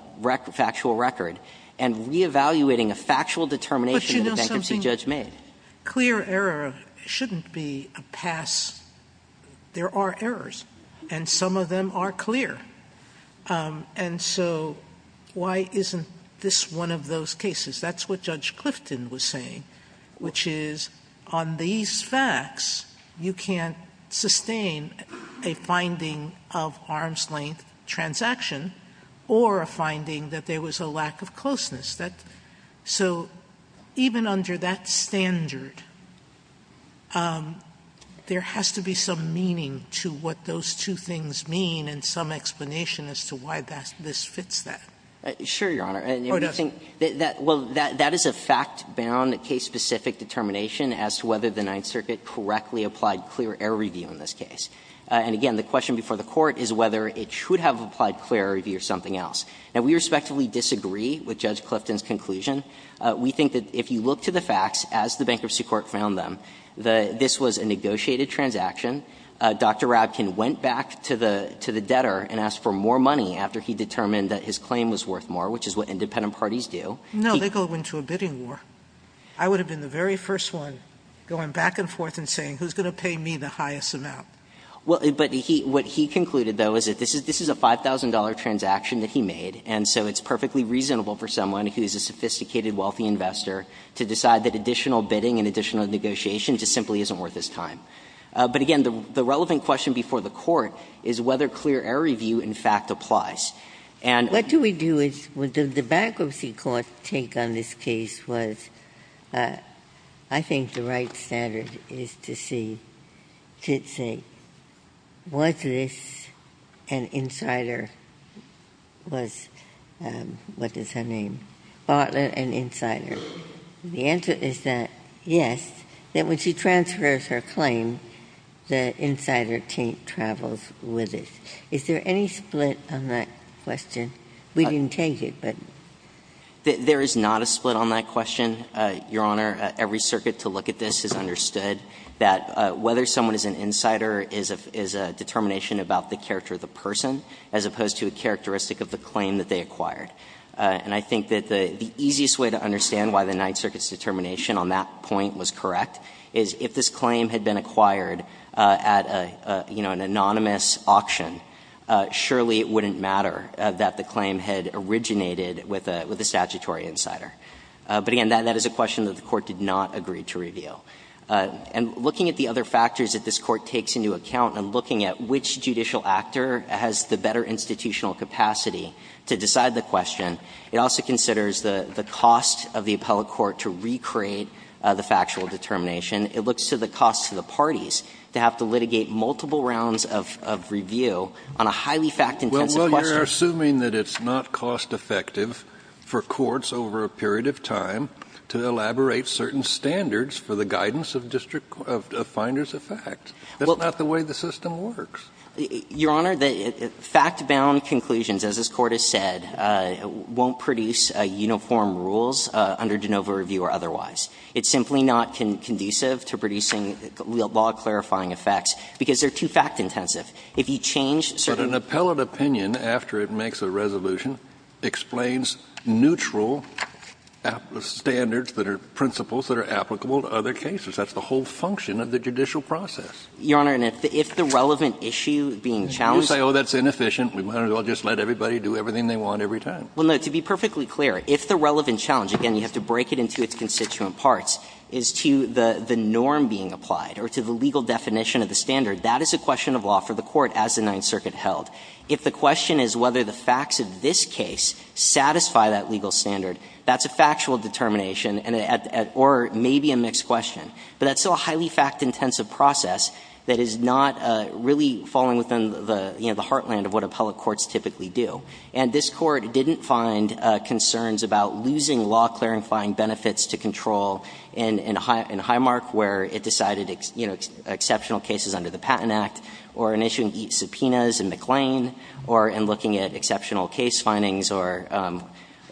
– factual record, and reevaluating a factual determination that a bankruptcy judge made. Sotomayor, clear error shouldn't be a pass. There are errors, and some of them are clear. And so why isn't this one of those cases? That's what Judge Clifton was saying, which is on these facts, you can't sustain a finding of arm's-length transaction or a finding that there was a lack of closeness. So even under that standard, there has to be some meaning to what those two things mean and some explanation as to why this fits that. Sure, Your Honor. Oh, it doesn't. Well, that is a fact-bound, case-specific determination as to whether the Ninth Circuit correctly applied clear error review in this case. And again, the question before the Court is whether it should have applied clear error review or something else. Now, we respectively disagree with Judge Clifton's conclusion. We think that if you look to the facts, as the Bankruptcy Court found them, that this was a negotiated transaction. Dr. Rabkin went back to the debtor and asked for more money after he determined that his claim was worth more, which is what independent parties do. No, they go into a bidding war. I would have been the very first one going back and forth and saying, who's going to pay me the highest amount? But what he concluded, though, is that this is a $5,000 transaction that he made, and so it's perfectly reasonable for someone who is a sophisticated, wealthy investor to decide that additional bidding and additional negotiation just simply isn't worth his time. But again, the relevant question before the Court is whether clear error review, in fact, applies. And the Bankruptcy Court's take on this case was, I think, the right standard is to see, to say, was this an insider, was, what is her name, bought an insider? The answer is that, yes. That when she transfers her claim, the insider team travels with it. Is there any split on that question? We didn't take it, but. There is not a split on that question, Your Honor. Every circuit to look at this has understood that whether someone is an insider is a determination about the character of the person as opposed to a characteristic of the claim that they acquired. And I think that the easiest way to understand why the Ninth Circuit's determination on that point was correct is if this claim had been acquired at an anonymous auction, surely it wouldn't matter that the claim had originated with a statutory insider. But, again, that is a question that the Court did not agree to review. And looking at the other factors that this Court takes into account and looking at which judicial actor has the better institutional capacity to decide the question, it also considers the cost of the appellate court to recreate the factual determination. It looks to the cost to the parties to have to litigate multiple rounds of review on a highly fact-intensive question. Kennedy, you are assuming that it's not cost-effective for courts over a period of time to elaborate certain standards for the guidance of district finders of facts. That's not the way the system works. Your Honor, fact-bound conclusions, as this Court has said, won't produce uniform rules under de novo review or otherwise. It's simply not conducive to producing law-clarifying effects, because they're too fact-intensive. If you change certain rules. But an appellate opinion, after it makes a resolution, explains neutral standards that are principles that are applicable to other cases. That's the whole function of the judicial process. Your Honor, and if the relevant issue being challenged. You say, oh, that's inefficient. We might as well just let everybody do everything they want every time. Well, no. To be perfectly clear, if the relevant challenge, again, you have to break it into its constituent parts, is to the norm being applied or to the legal definition of the standard, that is a question of law for the Court as the Ninth Circuit held. If the question is whether the facts of this case satisfy that legal standard, that's a factual determination or maybe a mixed question. But that's still a highly fact-intensive process that is not really falling within the heartland of what appellate courts typically do. And this Court didn't find concerns about losing law-clarifying benefits to control in Highmark, where it decided exceptional cases under the Patent Act, or in issuing subpoenas in McLean, or in looking at exceptional case findings or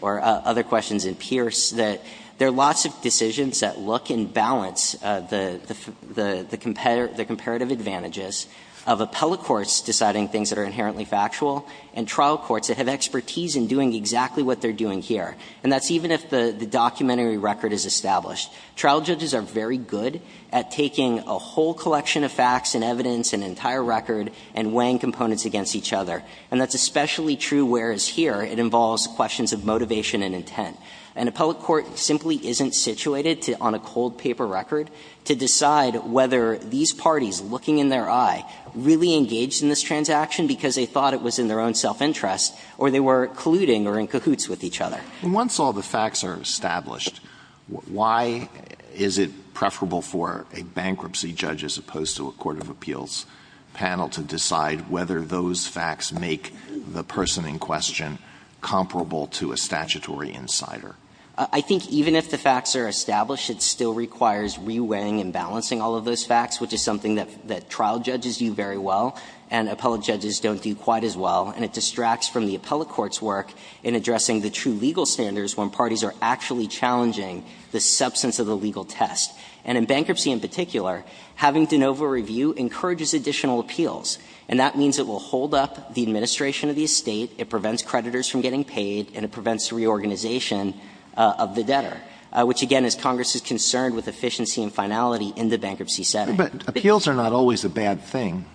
other questions in Pierce, that there are lots of decisions that look and balance the comparative advantages of appellate courts deciding things that are inherently factual and trial courts that have expertise in doing exactly what they're doing here. And that's even if the documentary record is established. Trial judges are very good at taking a whole collection of facts and evidence and entire record and weighing components against each other. And that's especially true whereas here it involves questions of motivation and intent. An appellate court simply isn't situated to, on a cold paper record, to decide whether these parties looking in their eye really engaged in this transaction because they thought it was in their own self-interest or they were colluding or in cahoots with each other. And once all the facts are established, why is it preferable for a bankruptcy judge as opposed to a court of appeals panel to decide whether those facts make the person in question comparable to a statutory insider? I think even if the facts are established, it still requires re-weighing and balancing all of those facts, which is something that trial judges do very well and appellate judges don't do quite as well. And it distracts from the appellate court's work in addressing the true legal standards when parties are actually challenging the substance of the legal test. And in bankruptcy in particular, having de novo review encourages additional appeals, and that means it will hold up the administration of the estate, it prevents creditors from getting paid, and it prevents the reorganization of the debtor, which, again, is Congress's concern with efficiency and finality in the bankruptcy setting. But appeals are not always a bad thing.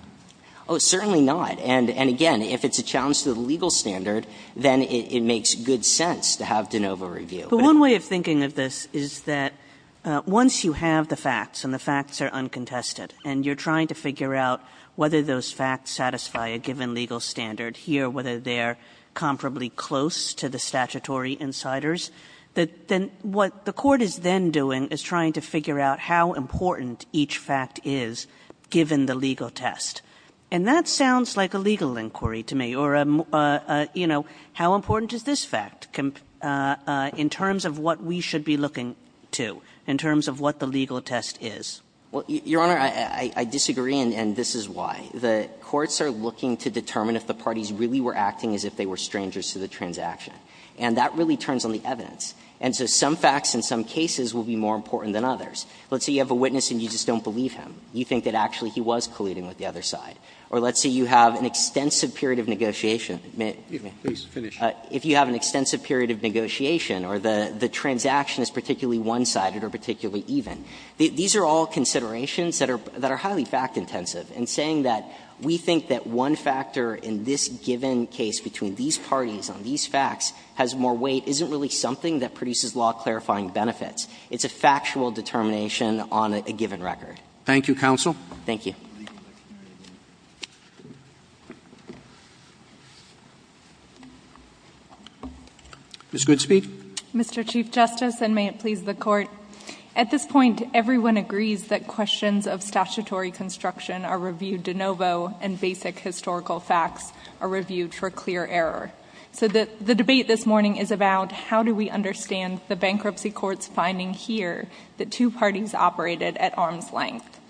Oh, certainly not. And again, if it's a challenge to the legal standard, then it makes good sense to have de novo review. Kagan. But one way of thinking of this is that once you have the facts and the facts are uncontested and you're trying to figure out whether those facts satisfy a given legal standard here, whether they're comparably close to the statutory insiders, then what the court is then doing is trying to figure out how important each fact is given the legal test. And that sounds like a legal inquiry to me, or, you know, how important is this fact in terms of what we should be looking to, in terms of what the legal test is? Well, Your Honor, I disagree, and this is why. The courts are looking to determine if the parties really were acting as if they were strangers to the transaction, and that really turns on the evidence. And so some facts in some cases will be more important than others. Let's say you have a witness and you just don't believe him. You think that actually he was colluding with the other side. Or let's say you have an extensive period of negotiation. If you have an extensive period of negotiation or the transaction is particularly one-sided or particularly even, these are all considerations that are highly fact-intensive. And saying that we think that one factor in this given case between these parties on these facts has more weight isn't really something that produces law-clarifying benefits. It's a factual determination on a given record. Thank you, Counsel. Thank you. Ms. Goodspeed. Mr. Chief Justice, and may it please the Court, at this point, everyone agrees that questions of statutory construction are reviewed de novo and basic historical facts are reviewed for clear error. So the debate this morning is about how do we understand the bankruptcy court's finding here that two parties operated at arm's length.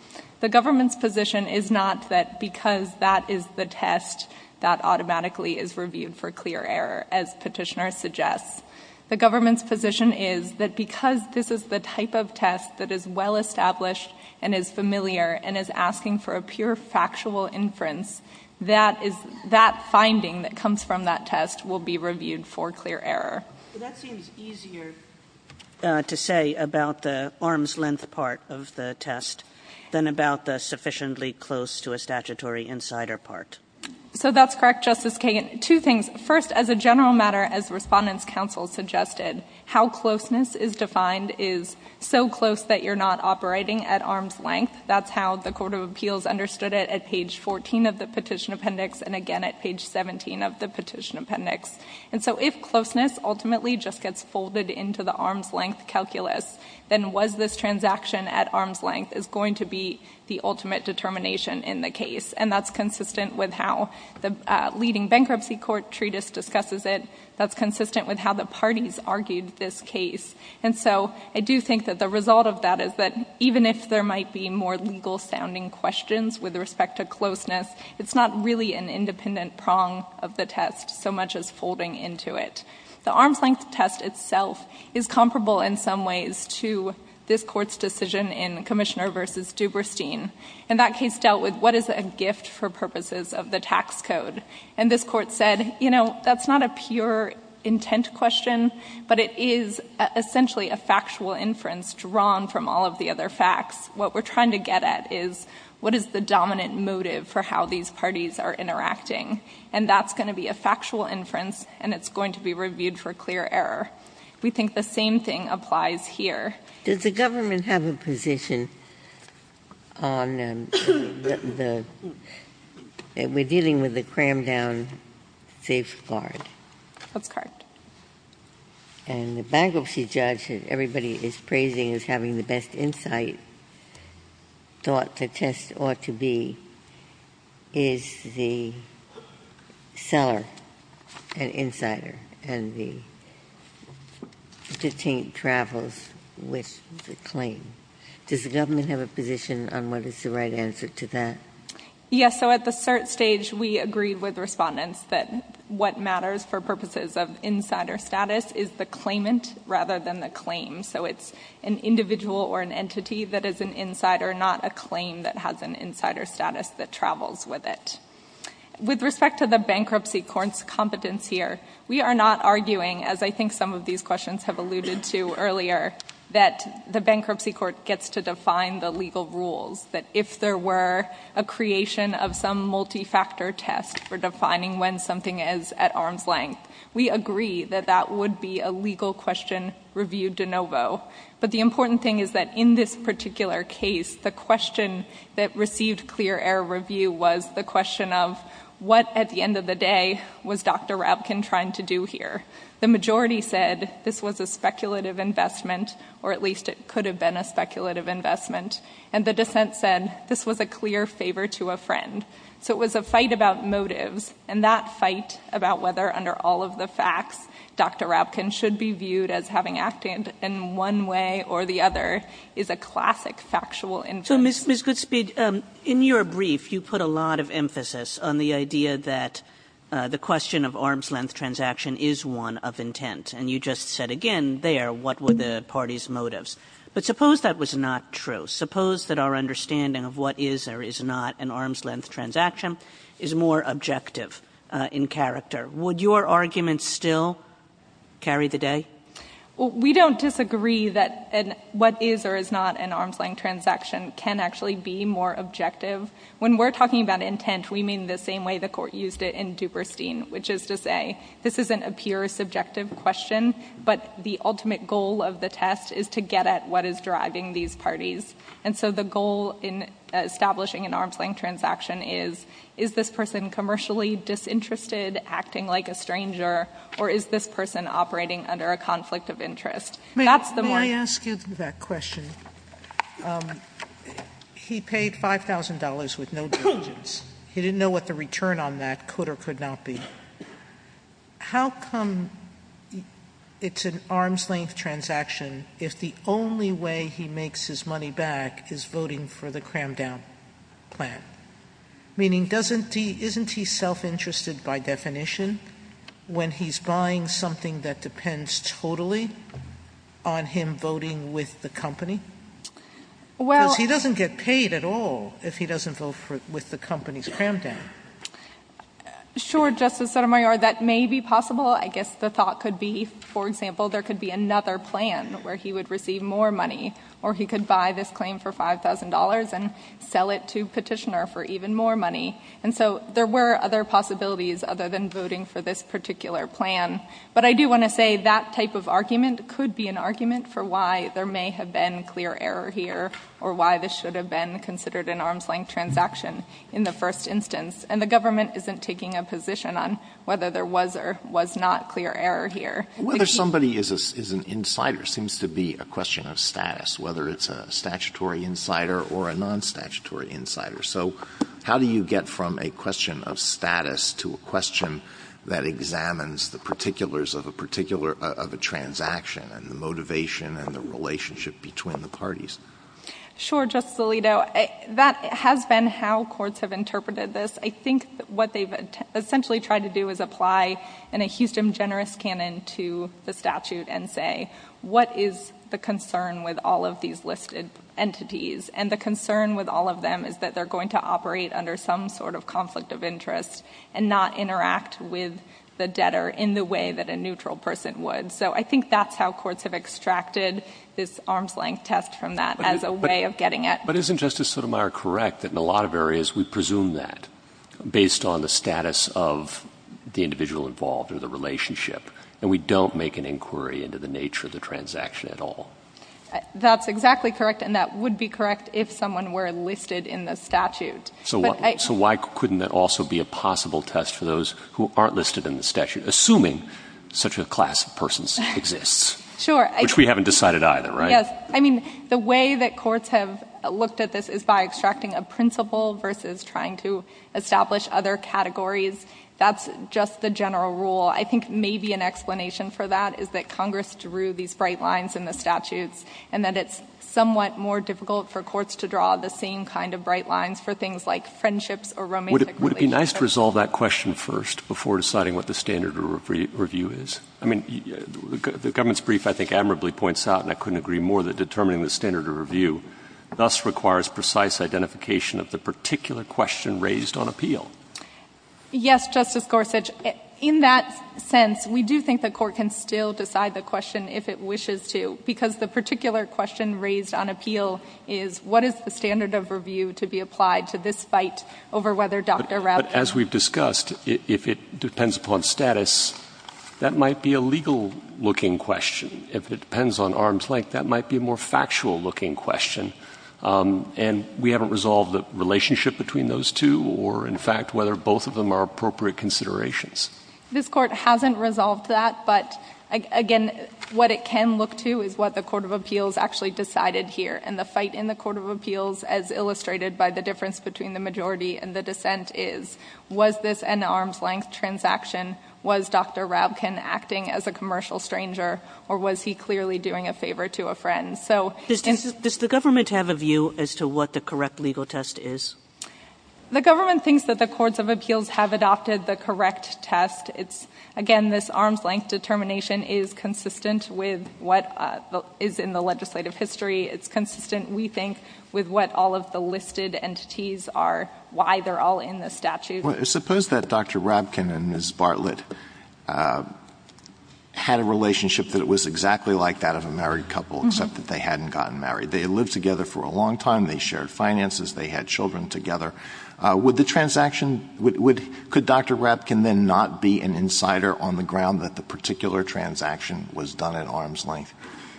The government's position is not that because that is the test, that automatically is reviewed for clear error, as Petitioner suggests. The government's position is that because this is the type of test that is well-established and is familiar and is asking for a pure factual inference, that finding that comes from that test will be reviewed for clear error. Well, that seems easier to say about the arm's length part of the test than about the sufficiently close to a statutory insider part. So that's correct, Justice Kagan. Two things. First, as a general matter, as Respondent's counsel suggested, how closeness is defined is so close that you're not operating at arm's length. That's how the Court of Appeals understood it at page 14 of the Petition Appendix and again at page 17 of the Petition Appendix. And so if closeness ultimately just gets folded into the arm's length calculus, then was this transaction at arm's length is going to be the ultimate determination in the case, and that's consistent with how the leading bankruptcy court treatise discusses it, that's consistent with how the parties argued this case. And so I do think that the result of that is that even if there might be more legal sounding questions with respect to closeness, it's not really an independent prong of the test so much as folding into it. The arm's length test itself is comparable in some ways to this court's decision in Commissioner versus Duberstein. And that case dealt with what is a gift for purposes of the tax code. And this court said, you know, that's not a pure intent question, but it is essentially a factual inference drawn from all of the other facts. What we're trying to get at is what is the dominant motive for how these parties are interacting, and that's going to be a factual inference, and it's going to be reviewed for clear error. We think the same thing applies here. Does the government have a position on the, we're dealing with a crammed down safe guard. That's correct. And the bankruptcy judge that everybody is praising as having the best insight thought the test ought to be is the seller, an insider, and the detainee travels with the claim. Does the government have a position on what is the right answer to that? Yes, so at the cert stage, we agreed with respondents that what matters for purposes of insider status is the claimant rather than the claim. So it's an individual or an entity that is an insider, not a claim that has an insider status that travels with it. With respect to the bankruptcy court's competence here, we are not arguing, as I think some of these questions have alluded to earlier, that the bankruptcy court gets to define the legal rules. That if there were a creation of some multi-factor test for defining when something is at arm's length, we agree that that would be a legal question reviewed de novo. But the important thing is that in this particular case, the question that received clear air review was the question of, what at the end of the day was Dr. Rapkin trying to do here? The majority said this was a speculative investment, or at least it could have been a speculative investment. And the dissent said this was a clear favor to a friend. So it was a fight about motives, and that fight about whether under all of the facts Dr. Rapkin should be viewed as having acted in one way or the other is a classic factual interest. Ms. Goodspeed, in your brief, you put a lot of emphasis on the idea that the question of arm's length transaction is one of intent. And you just said again there, what were the party's motives? But suppose that was not true. Suppose that our understanding of what is or is not an arm's length transaction is more objective in character. Would your argument still carry the day? We don't disagree that what is or is not an arm's length transaction can actually be more objective. When we're talking about intent, we mean the same way the court used it in Duperstein, which is to say this isn't a pure subjective question, but the ultimate goal of the test is to get at what is driving these parties. And so the goal in establishing an arm's length transaction is, is this person commercially disinterested, acting like a stranger, or is this person operating under a conflict of interest? That's the more- May I ask you that question? He paid $5,000 with no diligence. He didn't know what the return on that could or could not be. How come it's an arm's length transaction if the only way he makes his money back is voting for the cram down plan? Meaning, isn't he self-interested by definition when he's buying something that depends totally on him voting with the company? Because he doesn't get paid at all if he doesn't vote with the company's cram down. Sure, Justice Sotomayor, that may be possible. I guess the thought could be, for example, there could be another plan where he would receive more money, or he could buy this claim for $5,000 and sell it to Petitioner for even more money. And so there were other possibilities other than voting for this particular plan. But I do want to say that type of argument could be an argument for why there may have been clear error here, or why this should have been considered an arm's length transaction in the first instance. And the government isn't taking a position on whether there was or was not clear error here. Whether somebody is an insider seems to be a question of status, whether it's a statutory insider or a non-statutory insider. So how do you get from a question of status to a question that examines the particulars of a particular, of a transaction and the motivation and the relationship between the parties? Sure, Justice Alito, that has been how courts have interpreted this. I think what they've essentially tried to do is apply in a Houston generous canon to the statute and say, what is the concern with all of these listed entities? And the concern with all of them is that they're going to operate under some sort of conflict of interest and not interact with the debtor in the way that a neutral person would. So I think that's how courts have extracted this arm's length test from that as a way- But isn't Justice Sotomayor correct that in a lot of areas we presume that based on the status of the individual involved or the relationship, and we don't make an inquiry into the nature of the transaction at all? That's exactly correct, and that would be correct if someone were listed in the statute. So why couldn't that also be a possible test for those who aren't listed in the statute, assuming such a class of persons exists? Sure. Which we haven't decided either, right? Yes. I mean, the way that courts have looked at this is by extracting a principle versus trying to establish other categories. That's just the general rule. I think maybe an explanation for that is that Congress drew these bright lines in the statutes, and that it's somewhat more difficult for courts to draw the same kind of bright lines for things like friendships or romantic relationships. Would it be nice to resolve that question first before deciding what the standard review is? I mean, the government's brief, I think, admirably points out, and I couldn't agree more, that determining the standard of review thus requires precise identification of the particular question raised on appeal. Yes, Justice Gorsuch. In that sense, we do think the court can still decide the question if it wishes to, because the particular question raised on appeal is what is the standard of review to be applied to this fight over whether Dr. Raab- That might be a legal-looking question. If it depends on arm's length, that might be a more factual-looking question. And we haven't resolved the relationship between those two or, in fact, whether both of them are appropriate considerations. This court hasn't resolved that, but again, what it can look to is what the Court of Appeals actually decided here. And the fight in the Court of Appeals, as illustrated by the difference between the majority and the dissent is, was this an arm's length transaction? Was Dr. Raabkin acting as a commercial stranger, or was he clearly doing a favor to a friend? So- Does the government have a view as to what the correct legal test is? The government thinks that the Courts of Appeals have adopted the correct test. It's, again, this arm's length determination is consistent with what is in the legislative history. It's consistent, we think, with what all of the listed entities are, why they're all in the statute. Well, suppose that Dr. Raabkin and Ms. Bartlett had a relationship that it was exactly like that of a married couple, except that they hadn't gotten married. They had lived together for a long time. They shared finances. They had children together. Would the transaction- Could Dr. Raabkin then not be an insider on the ground that the particular transaction was done at arm's length?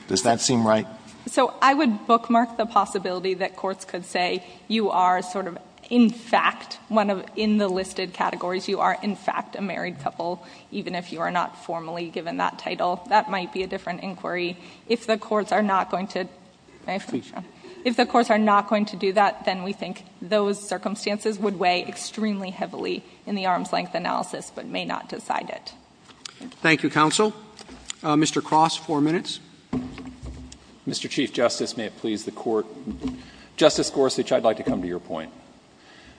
Does that seem right? So, I would bookmark the possibility that courts could say, you are sort of, in fact, one of, in the listed categories, you are, in fact, a married couple, even if you are not formally given that title. That might be a different inquiry. If the courts are not going to- May I finish? If the courts are not going to do that, then we think those circumstances would weigh extremely heavily in the arm's length analysis, but may not decide it. Thank you, counsel. Mr. Cross, four minutes. Mr. Chief Justice, may it please the Court. Justice Gorsuch, I would like to come to your point.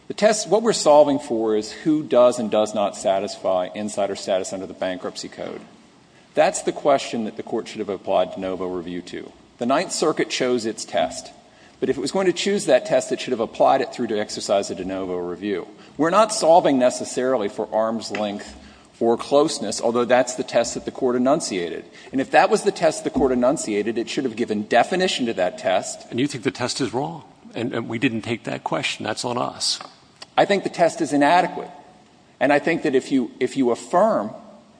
The test, what we are solving for is who does and does not satisfy insider status under the Bankruptcy Code. That's the question that the Court should have applied de novo review to. The Ninth Circuit chose its test. But if it was going to choose that test, it should have applied it through to exercise a de novo review. We are not solving necessarily for arm's length or closeness, although that's the test that the Court enunciated. And if that was the test the Court enunciated, it should have given definition to that test. And you think the test is wrong? And we didn't take that question. That's on us. I think the test is inadequate. And I think that if you affirm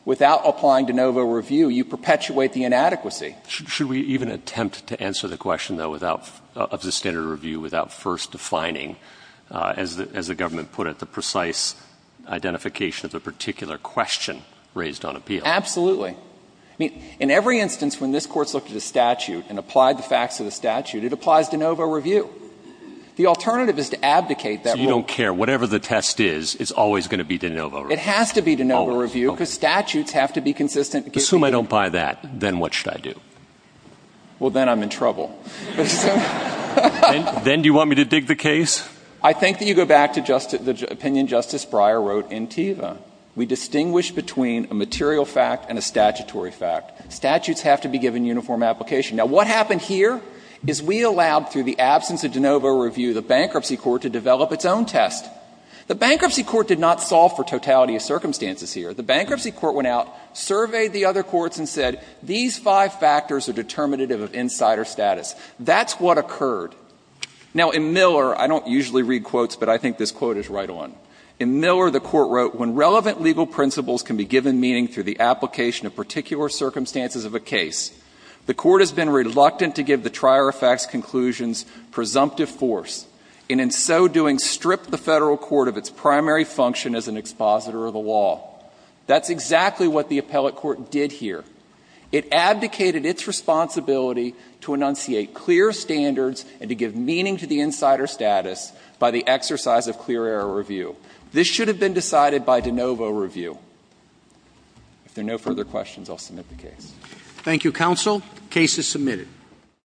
without applying de novo review, you perpetuate the inadequacy. Should we even attempt to answer the question, though, without the standard review, without first defining, as the government put it, the precise identification of the particular question raised on appeal? Absolutely. I mean, in every instance when this Court's looked at a statute and applied the facts of the statute, it applies de novo review. The alternative is to abdicate that rule. So you don't care. Whatever the test is, it's always going to be de novo review. It has to be de novo review because statutes have to be consistent. Assume I don't buy that. Then what should I do? Well, then I'm in trouble. Then do you want me to dig the case? I think that you go back to the opinion Justice Breyer wrote in TEVA. We distinguish between a material fact and a statutory fact. Statutes have to be given uniform application. Now, what happened here is we allowed, through the absence of de novo review, the Bankruptcy Court to develop its own test. The Bankruptcy Court did not solve for totality of circumstances here. The Bankruptcy Court went out, surveyed the other courts, and said, these five factors are determinative of insider status. That's what occurred. Now, in Miller, I don't usually read quotes, but I think this quote is right on. In Miller, the Court wrote, When relevant legal principles can be given meaning through the application of particular circumstances of a case, the Court has been reluctant to give the trier effect's conclusions presumptive force, and in so doing stripped the Federal Court of its primary function as an expositor of the law. That's exactly what the appellate court did here. It abdicated its responsibility to enunciate clear standards and to give meaning to the insider status by the exercise of clear error review. This should have been decided by de novo review. If there are no further questions, I will submit the case. Roberts. Thank you, counsel. The case is submitted.